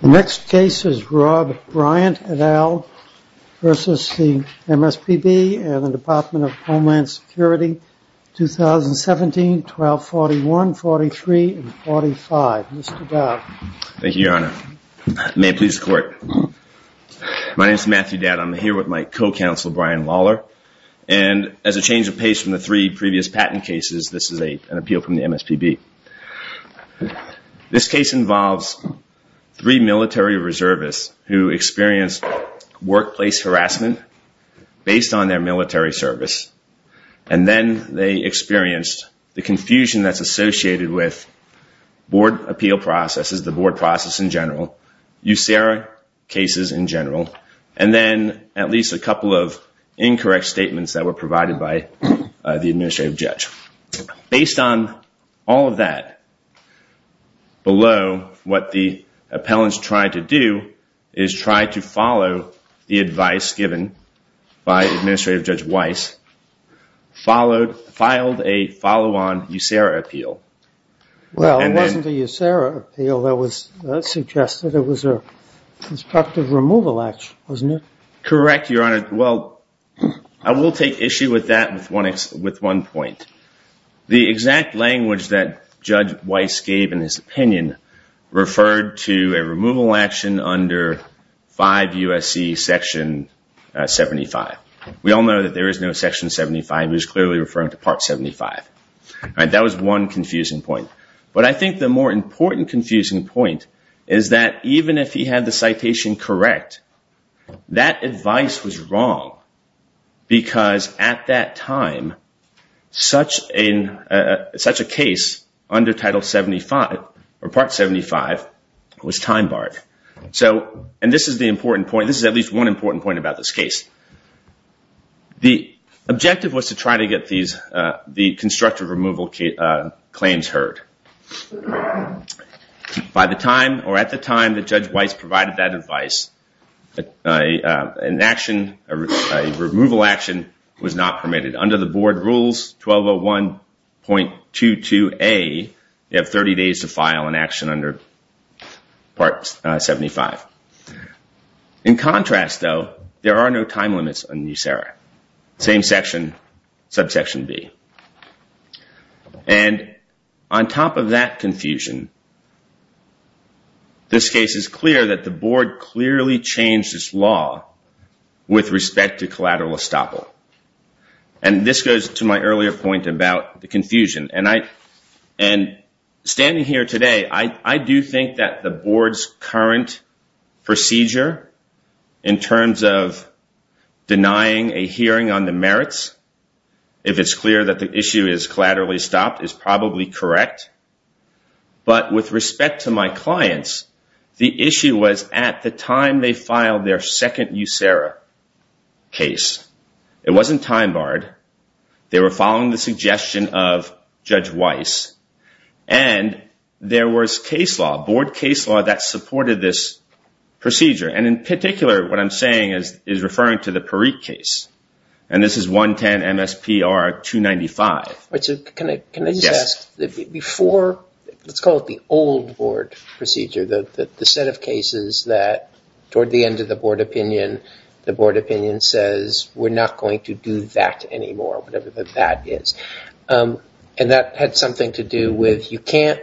The next case is Rob Bryant et al. v. MSPB and the Department of Homeland Security, 2017, 12-41, 43, and 45. Mr. Dowd. Thank you, Your Honor. May it please the Court. My name is Matthew Dowd. I'm here with my co-counsel, Brian Lawler, and as a change of pace from the three previous patent cases, this is an appeal from the MSPB. This case involves three military reservists who experienced workplace harassment based on their military service, and then they experienced the confusion that's associated with board appeal processes, the board process in general, USERA cases in general, and then at least a couple of incorrect statements that were provided by the administrative judge. Based on all of that, below what the appellants tried to do is try to follow the advice given by Administrative Judge Weiss, filed a follow-on USERA appeal. Well, it wasn't the USERA appeal that was suggested. It was a constructive removal act, wasn't it? Correct, Your Honor. Well, I will take issue with that with one point. The exact language that Judge Weiss gave in his opinion referred to a removal action under 5 U.S.C. Section 75. We all know that there is no Section 75. It was clearly referring to Part 75. That was one confusing point, but I think the more important confusing point is that even if he had citation correct, that advice was wrong because at that time, such a case under Title 75 or Part 75 was time-barred. This is the important point. This is at least one important point about this case. The objective was to try to get the constructive removal claims heard. By the time or at the time that Judge Weiss provided that advice, an action, a removal action was not permitted. Under the board rules 1201.22a, you have 30 days to file an action under Part 75. In contrast, though, there are no time limits on USERA. Same section, Subsection B. On top of that confusion, this case is clear that the board clearly changed its law with respect to collateral estoppel. This goes to my earlier point about the confusion. Standing here today, I do think that the board's current procedure in terms of denying a hearing on the merits, if it's clear that the issue is collaterally stopped, is probably correct, but with respect to my clients, the issue was at the time they filed their second USERA case. It wasn't time-barred. They were following the suggestion of Judge Weiss, and there was case law, board case law, that supported this procedure. In particular, what I'm saying is referring to the Parikh case. This is 110 MSPR 295. Can I just ask, before, let's call it the old board procedure, the set of cases that toward the end of the board opinion, the board opinion says we're not going to do that anymore, whatever that is. That had something to do with you can't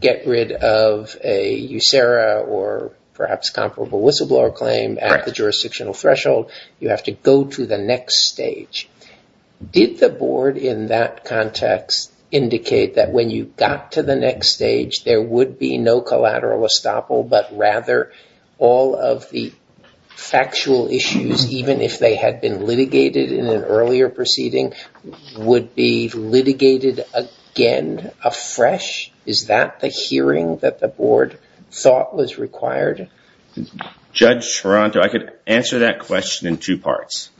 get rid of a USERA or perhaps comparable whistleblower claim at the jurisdictional threshold. You have to go to the next stage. Did the board in that context indicate that when you got to the next stage, there would be no collateral estoppel, but rather all of the factual issues, even if they had been litigated in an earlier proceeding, would be litigated again afresh? Is that the hearing that the board thought was required? Judge Toronto, I could answer that question in two parts.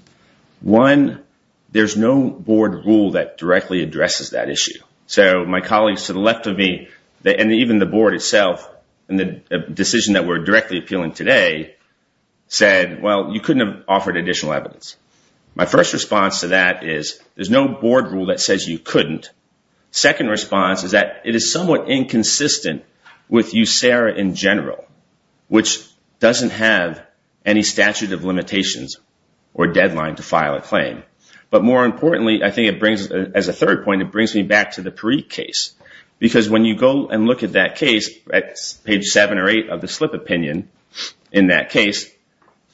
One, there's no board rule that directly addresses that issue. So my colleagues to the left of me, and even the board itself, in the decision that we're directly appealing today, said, well, you couldn't have offered additional evidence. My first response to that is there's no board rule that says you couldn't. Second response is that it is somewhat inconsistent with USERA in general, which doesn't have any statute of limitations or deadline to file a claim. But more importantly, I think it brings, as a third point, it brings me back to the Perique case. Because when you go and look at that case, page seven or eight of the slip opinion in that case,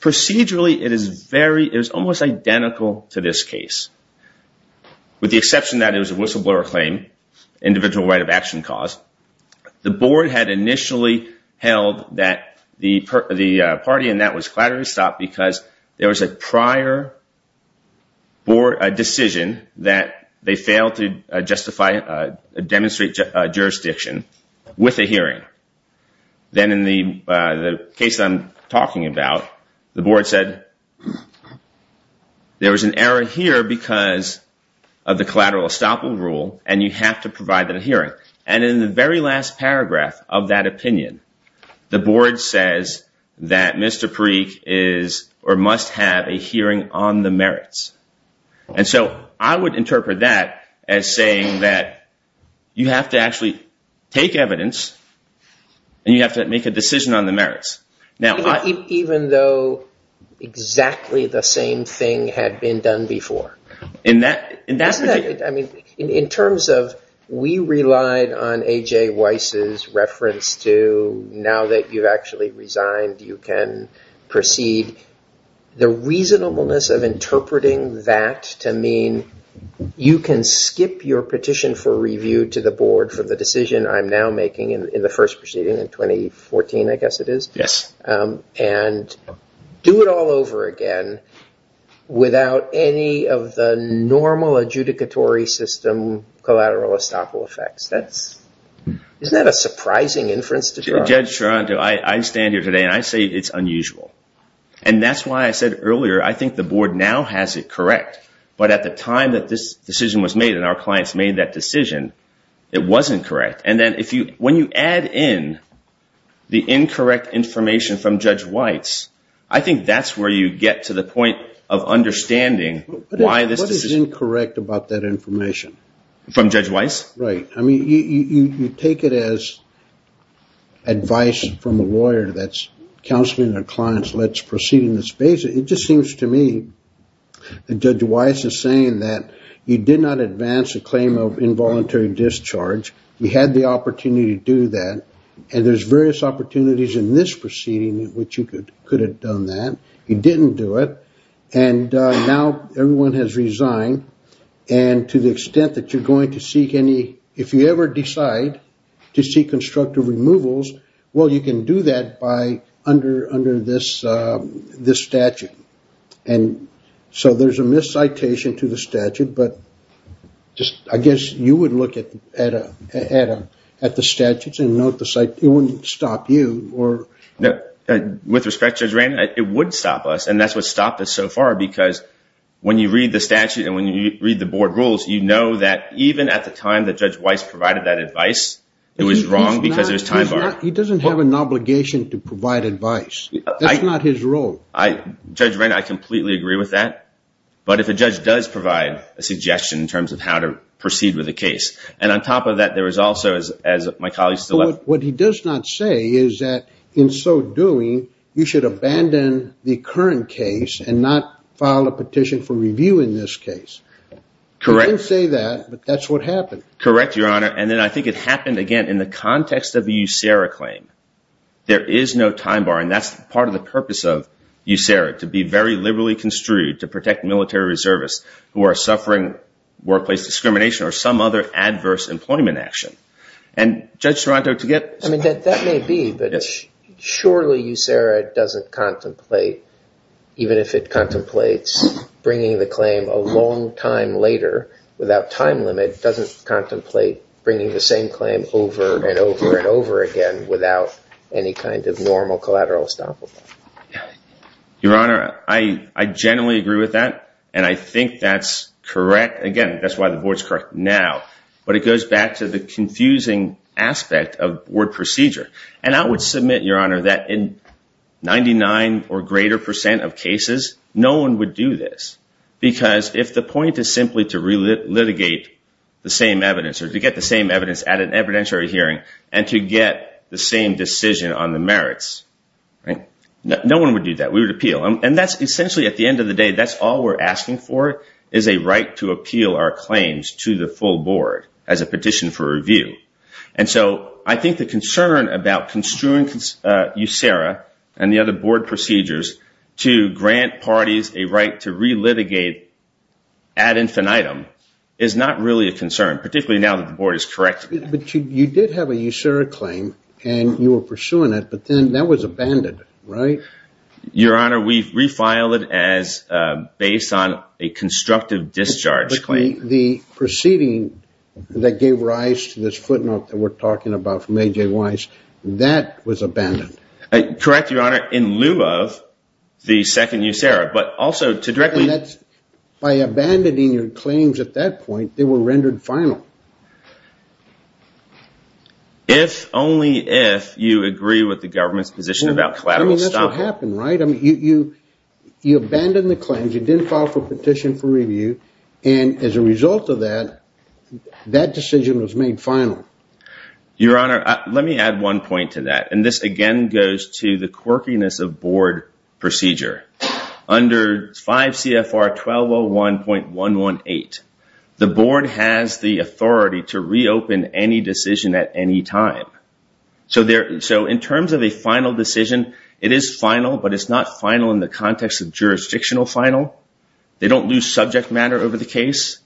procedurally, it is almost identical to this case, with the exception that it was a whistleblower claim, individual right of action cause. The board had initially held that the party in that was collaterally stopped because there was a prior decision that they failed to justify, demonstrate jurisdiction with a hearing. Then in the case I'm talking about, the board said that there was an error here because of the collateral estoppel rule, and you have to provide that hearing. And in the very last paragraph of that opinion, the board says that Mr. Perique is or must have a hearing on the merits. And so I would interpret that as saying that you have to actually take evidence and you have to make a decision on the merits. Now, even though exactly the same thing had been done before, in terms of we relied on A.J. Weiss's reference to now that you've actually resigned, you can proceed, the reasonableness of interpreting that to mean you can skip your petition for review to the board for the decision I'm now proceeding in 2014, I guess it is, and do it all over again without any of the normal adjudicatory system collateral estoppel effects. Isn't that a surprising inference to draw? Judge Charanto, I stand here today and I say it's unusual. And that's why I said earlier, I think the board now has it correct, but at the time that this decision was made and our the incorrect information from Judge Weiss, I think that's where you get to the point of understanding why this decision... What is incorrect about that information? From Judge Weiss? Right. I mean, you take it as advice from a lawyer that's counseling their clients, let's proceed in this basis. It just seems to me that Judge Weiss is saying that you did not advance a claim of involuntary discharge. You had the opportunity to do that. And there's various opportunities in this proceeding in which you could have done that. You didn't do it. And now everyone has resigned. And to the extent that you're going to seek any... If you ever decide to seek constructive removals, well, you can do that by under this statute. And so there's a miscitation to the statute, but just I guess you would look at the statutes and note the site. It wouldn't stop you or... With respect, Judge Rand, it would stop us. And that's what stopped us so far because when you read the statute and when you read the board rules, you know that even at the time that Judge Weiss provided that advice, it was wrong because of his time bar. He doesn't have an obligation to provide advice. That's not his role. Judge Rand, I completely agree with that. But if a judge does provide a suggestion in terms of how to proceed with a case. And on top of that, there was also, as my colleague still left... What he does not say is that in so doing, you should abandon the current case and not file a petition for review in this case. He didn't say that, but that's what happened. Correct, Your Honor. And then I think it happened again in the context of a USERRA claim. There is no time bar, and that's part of the purpose of USERRA, to be very liberally construed to protect military reservists who are suffering workplace discrimination or some other adverse employment action. And Judge Serranto, to get... I mean, that may be, but surely USERRA doesn't contemplate, even if it contemplates bringing the claim a long time later without time limit, doesn't contemplate bringing the same claim over and over and over again without any kind of normal collateral estoppel. Your Honor, I generally agree with that. And I think that's correct. Again, that's why the board's correct now. But it goes back to the confusing aspect of word procedure. And I would submit, Your Honor, that in 99 or greater percent of cases, no one would do this. Because if the point is simply to re-litigate the same evidence, or to get the same evidence at an evidentiary hearing, and to get the same decision on the merits, no one would do that. We would appeal. And that's essentially, at the end of the day, that's all we're asking for, is a right to appeal our claims to the full board as a petition for grant parties a right to re-litigate ad infinitum is not really a concern, particularly now that the board is correct. But you did have a USERRA claim, and you were pursuing it, but then that was abandoned, right? Your Honor, we refiled it as based on a constructive discharge claim. The proceeding that gave rise to this footnote that we're talking about from A.J. Weiss, that was abandoned. Correct, Your Honor, in lieu of the second USERRA, but also to directly... And that's by abandoning your claims at that point, they were rendered final. If only if you agree with the government's position about collateral stopping. I mean, that's what happened, right? I mean, you abandoned the claims, you didn't file for petition for review, and as a result of that, that decision was made final. Your Honor, let me add one point to that. And this again goes to the quirkiness of board procedure. Under 5 CFR 1201.118, the board has the authority to reopen any decision at any time. So in terms of a final decision, it is final, but it's not final in the context of jurisdictional final. They don't lose subject matter over the case.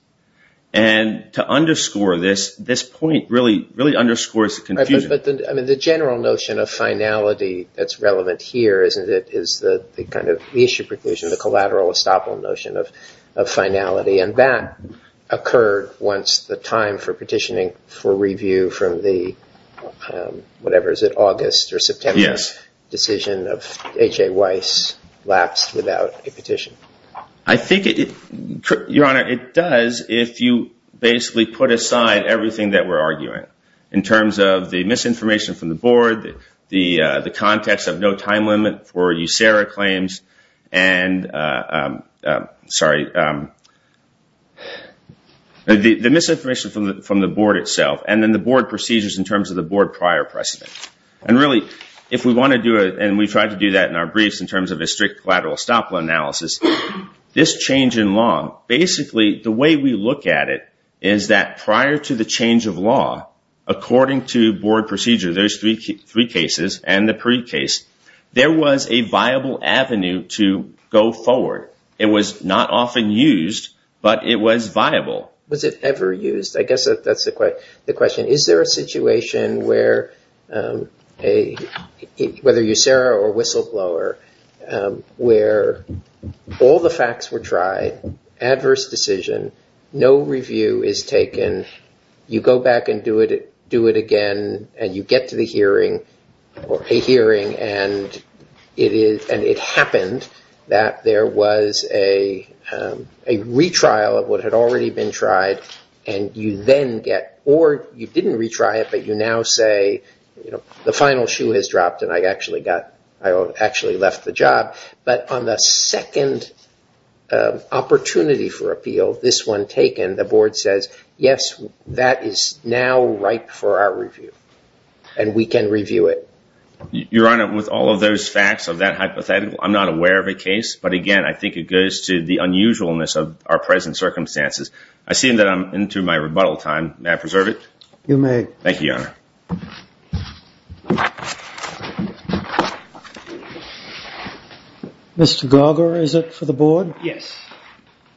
And to underscore this, this point really underscores the confusion. But the general notion of finality that's relevant here, isn't it, is the kind of issue preclusion, the collateral estoppel notion of finality. And that occurred once the time for petitioning for review from the, whatever, is it August or a petition? I think it, Your Honor, it does if you basically put aside everything that we're arguing. In terms of the misinformation from the board, the context of no time limit for USERRA claims, and sorry, the misinformation from the board itself. And then the board procedures in terms of the board prior precedent. And really, if we want to do it, and we tried to do that in briefs in terms of a strict collateral estoppel analysis, this change in law, basically the way we look at it is that prior to the change of law, according to board procedure, there's three cases and the pre-case, there was a viable avenue to go forward. It was not often used, but it was viable. Was it ever used? I guess that's the question. Is there a situation where, a, whether USERRA or Whistleblower, where all the facts were tried, adverse decision, no review is taken, you go back and do it again, and you get to the hearing, or a hearing and it is, and it happened that there was a retrial of what had already been tried, and you then get, or you didn't retry it, but you now say, you know, the final shoe has dropped, and I actually got, I actually left the job. But on the second opportunity for appeal, this one taken, the board says, yes, that is now right for our review. And we can review it. Your Honor, with all of those facts of that hypothetical, I'm not aware of a case. But again, I think it goes to the unusualness of our present circumstances. I see that I'm into my rebuttal time. May I preserve it? You may. Thank you, Your Honor. Mr. Garger, is it for the board? Yes.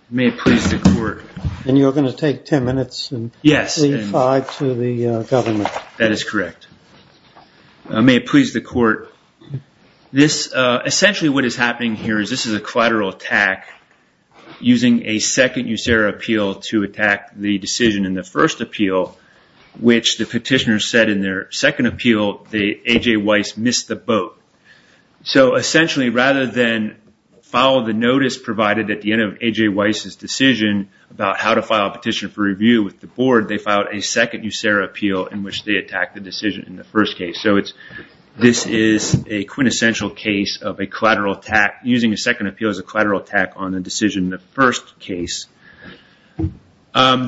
May it please the court. And you're going to take 10 minutes and leave five to the government. That is correct. May it please the court. This, essentially what is happening here is, this is a collateral attack using a second USERRA appeal to attack the decision in the first appeal, which the petitioner said in their second appeal that A.J. Weiss missed the boat. So essentially, rather than follow the notice provided at the end of A.J. Weiss's decision about how to file a petition for review with the board, they filed a second USERRA appeal in which they attacked the decision in the first case. So it's, this is a quintessential case of a collateral attack, using a second appeal as a collateral attack on the decision in the first case. I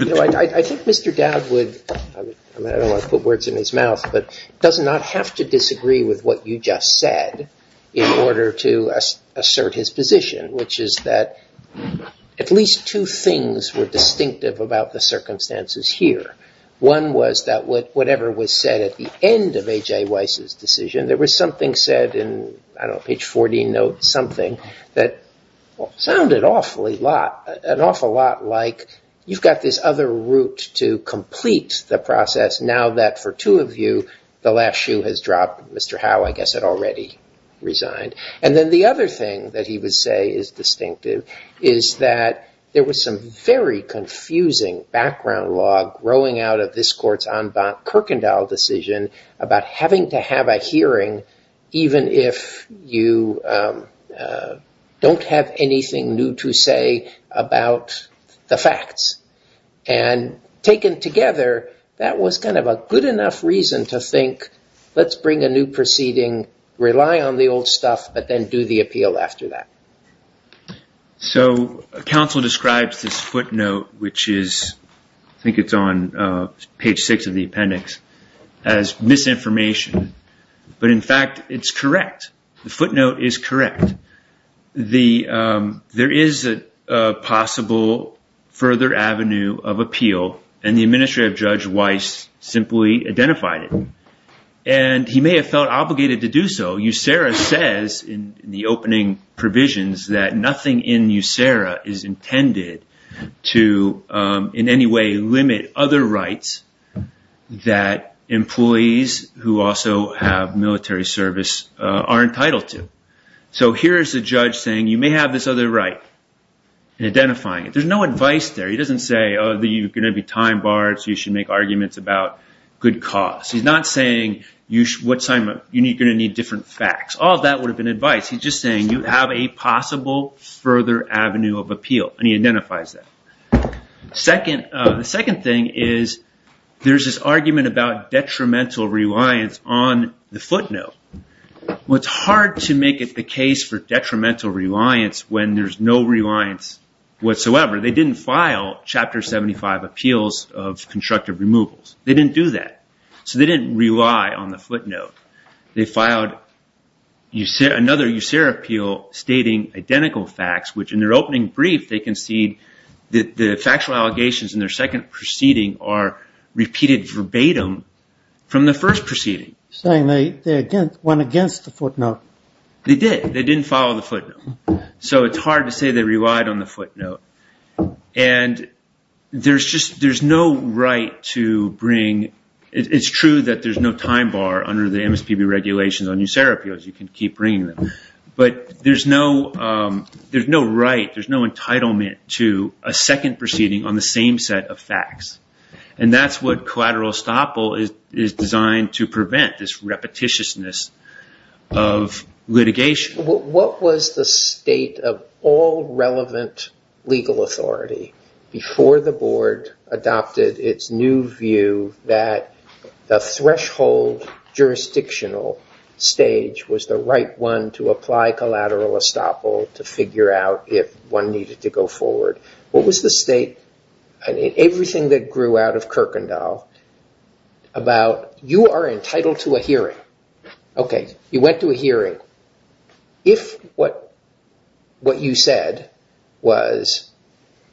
think Mr. Dowd would, I don't want to put words in his mouth, but does not have to disagree with what you just said in order to assert his position, which is that at least two things were distinctive about the circumstances here. One was that whatever was said at the end of A.J. Weiss's decision, there was something said in, I don't know, page 40, note something that sounded awfully lot, an awful lot like, you've got this other route to complete the process now that for two of you, the last shoe has dropped. Mr. Howe, I guess, had already resigned. And then the other thing that he would say is distinctive is that there was some very confusing background log growing out of Kirkendall decision about having to have a hearing even if you don't have anything new to say about the facts. And taken together, that was kind of a good enough reason to think, let's bring a new proceeding, rely on the old stuff, but then do the appeal after that. So counsel describes this footnote, which is, I think it's on page six of the appendix, as misinformation. But in fact, it's correct. The footnote is correct. There is a possible further avenue of appeal, and the administrative Judge Weiss simply identified it. And he may have obligated to do so. USERA says in the opening provisions that nothing in USERA is intended to in any way limit other rights that employees who also have military service are entitled to. So here is a judge saying, you may have this other right, and identifying it. There's no advice there. He doesn't say, oh, you're going to be time barred, so you should make arguments about good cause. He's not saying, you're going to need different facts. All of that would have been advice. He's just saying, you have a possible further avenue of appeal, and he identifies that. The second thing is, there's this argument about detrimental reliance on the footnote. What's hard to make it the case for detrimental reliance when there's no reliance whatsoever. They didn't file Chapter 75 appeals of constructive removals. They didn't do that. So they didn't rely on the footnote. They filed another USERA appeal stating identical facts, which in their opening brief, they concede that the factual allegations in their second proceeding are repeated verbatim from the first proceeding. They went against the footnote. They did. They didn't follow the footnote. So it's hard to say they relied on the footnote. And it's true that there's no time bar under the MSPB regulations on USERA appeals. You can keep bringing them. But there's no right, there's no entitlement to a second proceeding on the same set of facts. And that's what collateral estoppel is designed to prevent, this repetitiousness of litigation. What was the state of all relevant legal authority before the board adopted its new view that the threshold jurisdictional stage was the right one to apply collateral estoppel to figure out if one needed to go forward? What was the state, and everything that grew out of You went to a hearing. If what you said was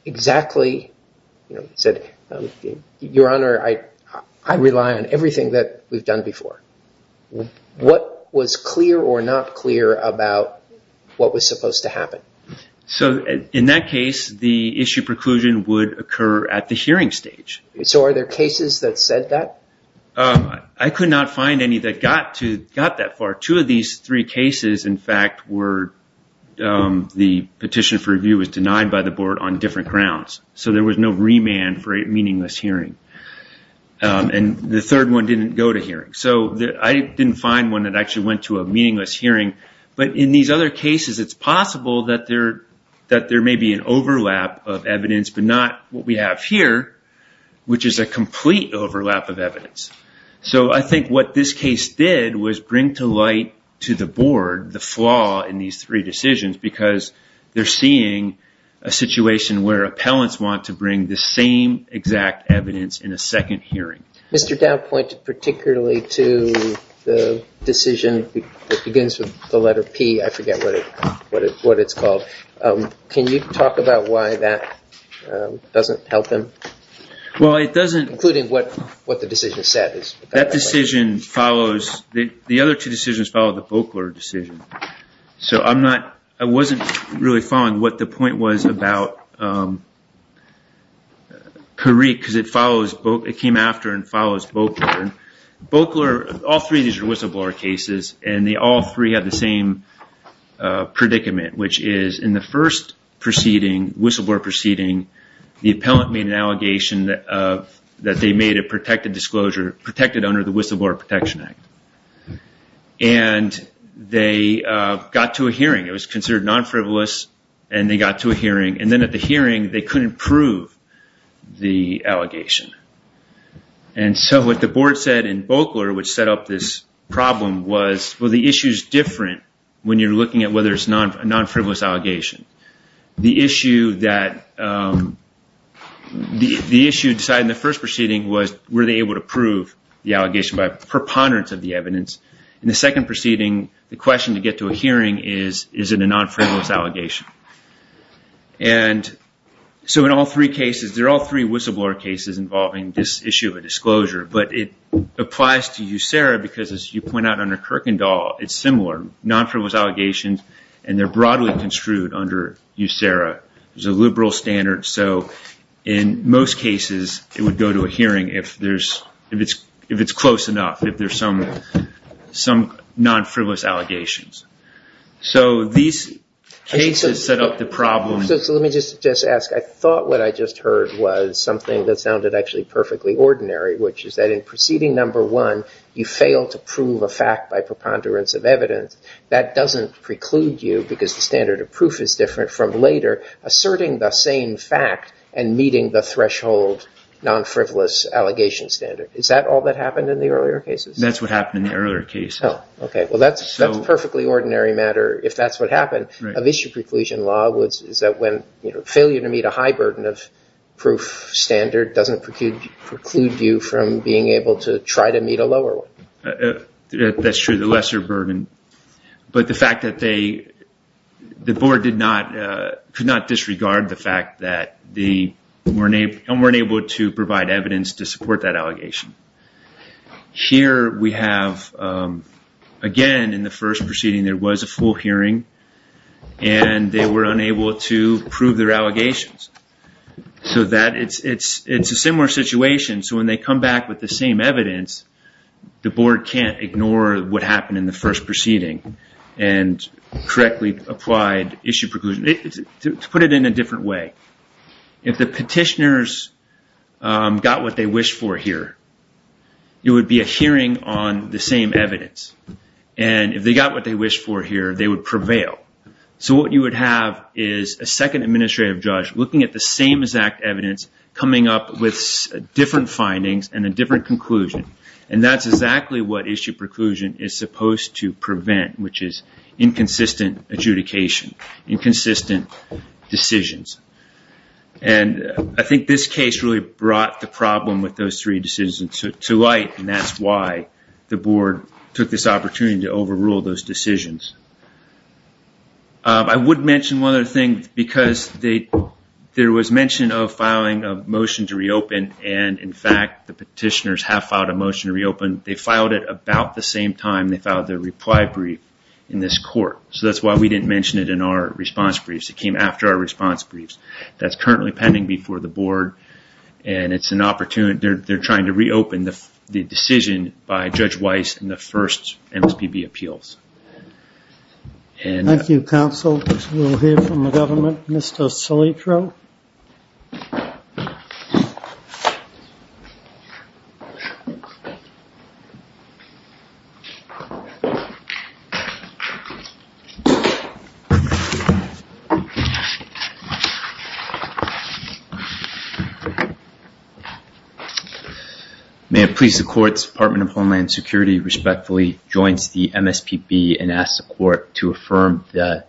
exactly, you know, you said, Your Honor, I rely on everything that we've done before. What was clear or not clear about what was supposed to happen? So in that case, the issue preclusion would occur at the hearing stage. So are there cases that said that? I could not find any that got that far. Two of these three cases, in fact, were the petition for review was denied by the board on different grounds. So there was no remand for a meaningless hearing. And the third one didn't go to hearing. So I didn't find one that actually went to a meaningless hearing. But in these other cases, it's possible that there may be an overlap of evidence, but not what we have here, which is a complete overlap of evidence. So I think what this case did was bring to light to the board the flaw in these three decisions, because they're seeing a situation where appellants want to bring the same exact evidence in a second hearing. Mr. Dowd pointed particularly to the decision that begins with the letter P. I forget what it's called. Can you talk about why that doesn't help them? Well, it doesn't... Including what the decision said is... That decision follows... The other two decisions follow the Bokler decision. So I'm not... I wasn't really following what the point was about Kariq, because it came after and follows Bokler. Bokler, all three of these are whistleblower cases, and they all three have the same predicament, which is in the first proceeding, whistleblower proceeding, the appellant made an allegation that they made a protected disclosure, protected under the Whistleblower Protection Act. And they got to a hearing. It was considered non-frivolous, and they got to a hearing. And then at the hearing, they couldn't prove the allegation. And so what the board said in Bokler, which set up this problem, was, well, the issue is different when you're looking at whether it's a non-frivolous allegation. The issue that... The issue decided in the first proceeding was, were they able to prove the allegation by preponderance of the evidence? In the second proceeding, the question to get to a hearing is, is it a non-frivolous allegation? And so in all three cases, they're all three whistleblower cases involving this issue of a disclosure, but it applies to you, Sarah, because as you point out under Kierkegaard, it's similar. Non-frivolous allegations, and they're broadly construed under you, Sarah. There's a liberal standard. So in most cases, it would go to a hearing if it's close enough, if there's some non-frivolous allegations. So these cases set up the problem... So let me just ask. I thought what I just heard was something that sounded actually of evidence. That doesn't preclude you because the standard of proof is different from later asserting the same fact and meeting the threshold non-frivolous allegation standard. Is that all that happened in the earlier cases? That's what happened in the earlier case. Oh, okay. Well, that's a perfectly ordinary matter if that's what happened. A vicious preclusion law is that failure to meet a high burden of proof standard doesn't preclude you from being able to try to meet a lower one. That's true, the lesser burden. But the fact that the board could not disregard the fact that they weren't able to provide evidence to support that allegation. Here we have, again, in the first proceeding, there was a full hearing, and they were unable to prove their allegations. So it's a similar situation. So when they come back with the same evidence, the board can't ignore what happened in the first proceeding and correctly applied issue preclusion. To put it in a different way, if the petitioners got what they wished for here, it would be a hearing on the same evidence. And if they got what they wished for here, they would prevail. So what you would have is a second administrative judge looking at the same exact evidence coming up with different findings and a different conclusion. And that's exactly what issue preclusion is supposed to prevent, which is inconsistent adjudication, inconsistent decisions. And I think this case really brought the problem with those three decisions to light, and that's why the board took this opportunity to overrule those decisions. I would mention one other thing, because there was mention of filing a motion to reopen, and in fact, the petitioners have filed a motion to reopen. They filed it about the same time they filed their reply brief in this court. So that's why we didn't mention it in our response briefs. It came after our response briefs. That's currently pending before the board, and it's an opportunity. They're trying to reopen the decision by Judge Weiss in the first round of MSPB appeals. Thank you, counsel. We'll hear from the government. Mr. Salitro. May it please the courts, Department of Homeland Security respectfully joins the MSPB and asks the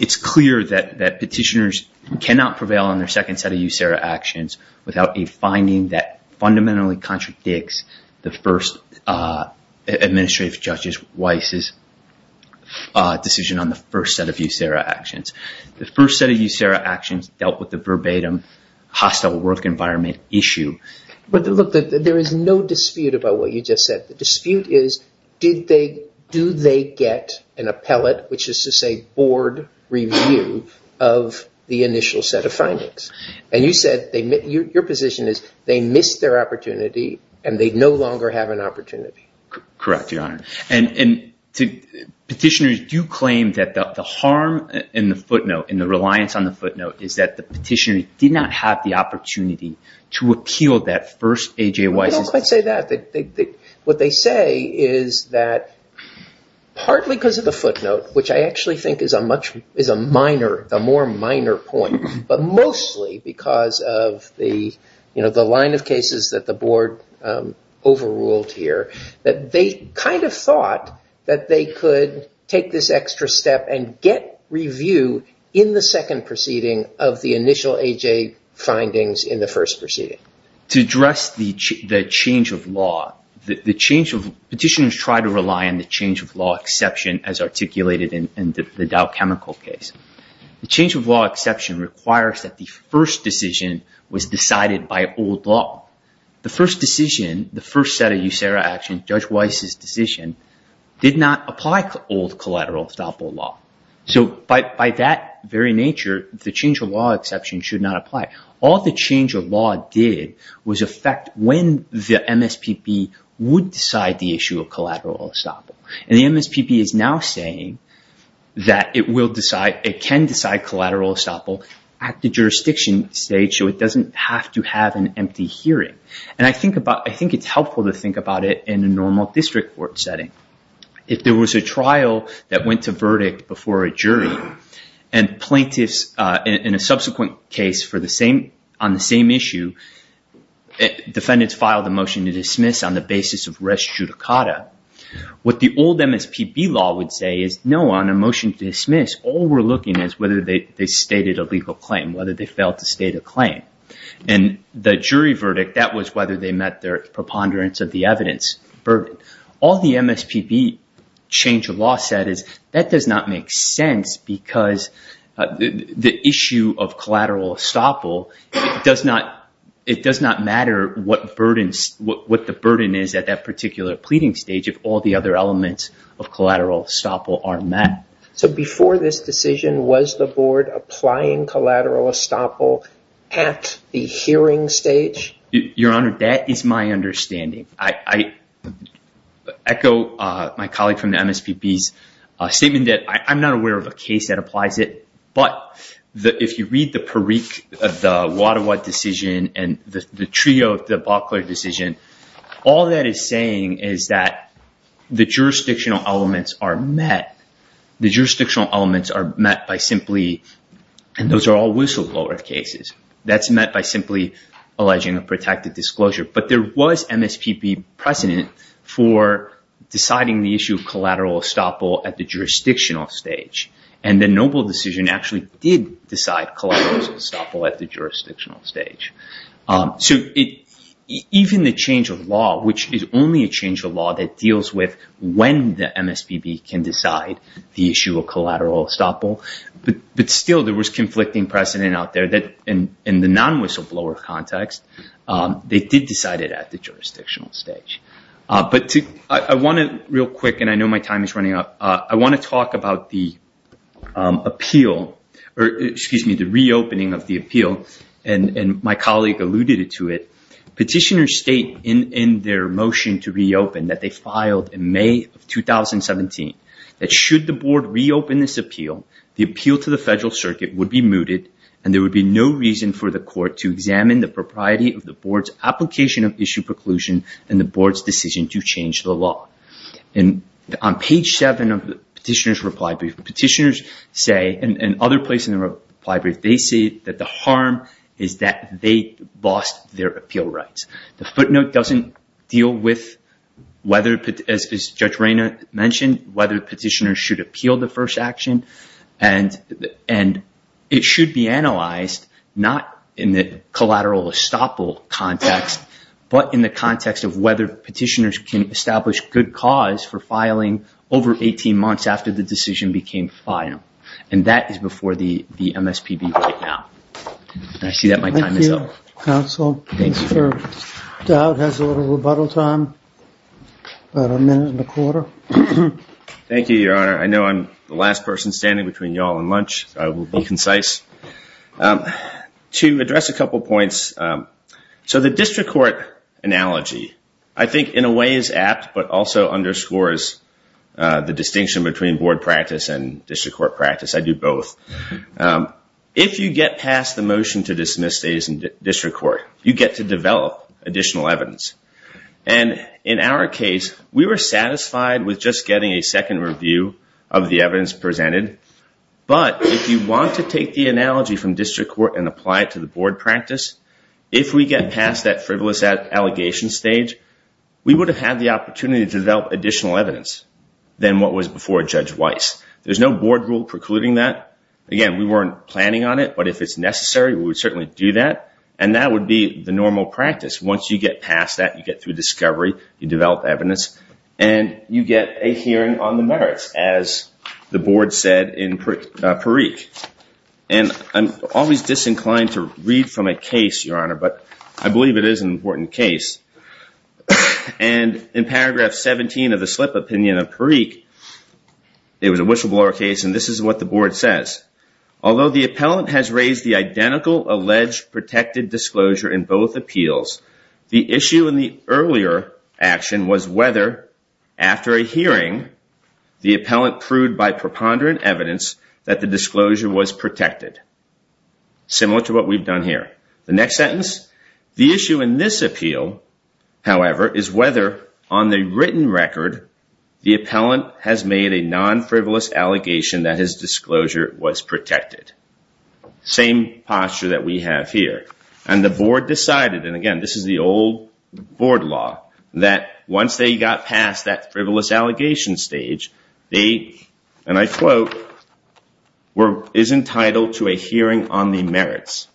It's clear that petitioners cannot prevail on their second set of USERRA actions without a finding that fundamentally contradicts the first administrative Judge Weiss's decision on the first set of USERRA actions. The first set of USERRA actions dealt with the verbatim hostile work environment issue. But look, there is no dispute about what you just said. The dispute is, do they get an appellate, which is to say board review of the initial set of findings? And you said your position is they missed their opportunity and they no longer have an opportunity. Correct, Your Honor. And petitioners do claim that the harm in the footnote, in the reliance on the footnote, is that the petitioner did not have the opportunity to appeal that first AJ Weiss. I don't quite say that. What they say is that partly because of the footnote, which I actually think is a more minor point, but mostly because of the line of cases that the board overruled here, that they kind of thought that they could take this extra step and get review in the second proceeding of the initial AJ findings in the first proceeding. To address the change of law, petitioners try to rely on the change of law exception as articulated in the Dow Chemical case. The change of law exception requires that the first decision was decided by old law. The first decision, the first set of USERRA actions, Judge Weiss's decision did not apply to old collateral estoppel law. So by that very nature, the change of law exception should not apply. All the change of law did was affect when the MSPB would decide the issue of collateral estoppel. And the MSPB is now saying that it can decide collateral estoppel at the jurisdiction stage so it doesn't have to have an empty hearing. And I think it's helpful to think about it in a normal district court setting. If there was a trial that went to verdict before a jury and plaintiffs in a subsequent case on the same issue, defendants filed a motion to dismiss on the basis of res judicata. What the old MSPB law would say is, no, on a motion to dismiss, all we're looking at is whether they stated a legal claim, whether they failed to state a claim. And the jury verdict, that was whether they met their preponderance of the evidence burden. All the MSPB change of law said is that does not make sense because the issue of collateral estoppel, it does not matter what the burden is at that particular pleading stage if all the other elements of collateral estoppel are met. So before this decision, was the board applying collateral estoppel at the hearing stage? Your Honor, that is my understanding. I echo my colleague from the MSPB's statement that I'm not aware of a case that applies it, but if you read the Perique, the Wadawat decision and the trio, the Buckler decision, all that is saying is that the jurisdictional elements are met. The jurisdictional elements are met by simply, and those are all whistleblower cases, that's met by simply alleging a protected disclosure. But there was MSPB precedent for deciding the issue of collateral estoppel at the jurisdictional stage. And the Noble decision actually did decide collateral estoppel at the jurisdictional stage. So even the change of law, which is only a change that deals with when the MSPB can decide the issue of collateral estoppel, but still there was conflicting precedent out there that in the non-whistleblower context, they did decide it at the jurisdictional stage. But I want to, real quick, and I know my time is running out, I want to talk about the appeal, or excuse me, the reopening of the appeal. And my colleague alluded to it. Petitioners state in their motion to reopen that they filed in May of 2017, that should the board reopen this appeal, the appeal to the federal circuit would be mooted and there would be no reason for the court to examine the propriety of the board's application of issue preclusion and the board's decision to change the law. And on page seven of the petitioner's reply brief, petitioners say, and other places in the reply brief, they say that the harm is that they lost their appeal rights. The footnote doesn't deal with whether, as Judge Reyna mentioned, whether petitioners should appeal the first action. And it should be analyzed, not in the collateral estoppel context, but in the context of whether petitioners can establish good cause for filing over 18 months after the decision became final. And that is before the I see that my time is up. Thank you, counsel. Mr. Dowd has a little rebuttal time, about a minute and a quarter. Thank you, your honor. I know I'm the last person standing between y'all and lunch. I will be concise. To address a couple points, so the district court analogy, I think in a way is apt, but also underscores the distinction between board practice and district court practice. I do both. If you get past the motion to dismiss days in district court, you get to develop additional evidence. And in our case, we were satisfied with just getting a second review of the evidence presented. But if you want to take the analogy from district court and apply it to the board practice, if we get past that frivolous allegation stage, we would have had the opportunity to develop additional evidence than what was before Judge Weiss. There's no board rule precluding that. Again, we weren't planning on it, but if it's necessary, we would certainly do that. And that would be the normal practice. Once you get past that, you get through discovery, you develop evidence, and you get a hearing on the merits, as the board said in Parikh. And I'm always disinclined to read from a case, your honor, but I believe it is an important case. And in paragraph 17 of the slip opinion of Parikh, it was a whistleblower case, and this is what the board says. Although the appellant has raised the identical alleged protected disclosure in both appeals, the issue in the earlier action was whether, after a hearing, the appellant proved by preponderant evidence that the disclosure was protected. Similar to what we've done here. The next sentence. The issue in this appeal, however, is whether, on the written record, the appellant has made a non-frivolous allegation that his disclosure was protected. Same posture that we have here. And the board decided, and again, this is the old board law, that once they got past that frivolous allegation stage, they, and I quote, is entitled to a hearing on the merits.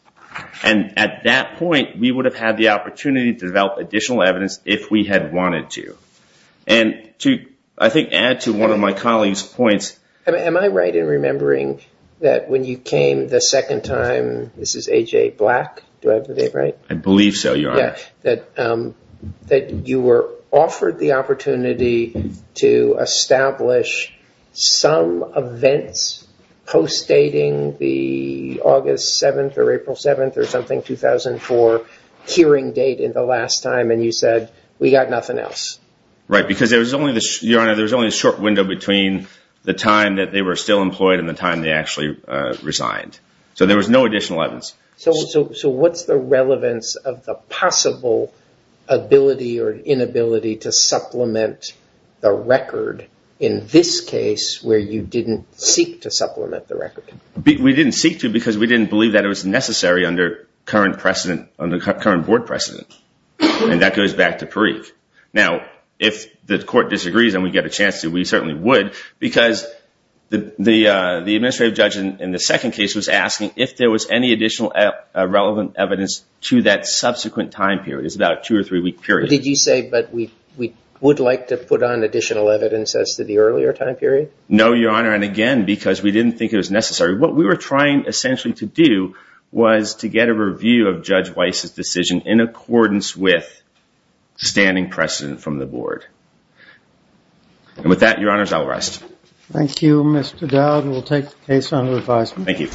And at that point, we would have had the opportunity to develop additional evidence if we had wanted to. And to, I think, add to one of my colleague's points. Am I right in remembering that when you came the second time, this is A.J. Black, do I have the name right? I believe so, your honor. That you were offered the opportunity to establish some events post-dating the August 7th or April 7th or something 2004 hearing date in the last time and you said, we got nothing else. Right, because there was only, your honor, there was only a short window between the time that they were still employed and the time they actually resigned. So there was no additional evidence. So what's the relevance of the possible ability or inability to supplement the record in this case where you didn't seek to supplement the record? We didn't seek to because we didn't believe that it was necessary under current precedent, under current board precedent. And that goes back to Parikh. Now, if the court disagrees and we get a chance to, we certainly would because the administrative judge in the second case was asking if there was any additional relevant evidence to that subsequent time period. It's about a two or three week period. Did you say, but we would like to put on additional evidence as to the earlier time period? No, your honor. And again, because we didn't think it was necessary, what we were trying essentially to do was to get a review of Judge Weiss's decision in accordance with standing precedent from the board. And with that, your honors, I'll rest. Thank you, Mr. Dowd. We'll take the case under advisement. Thank you.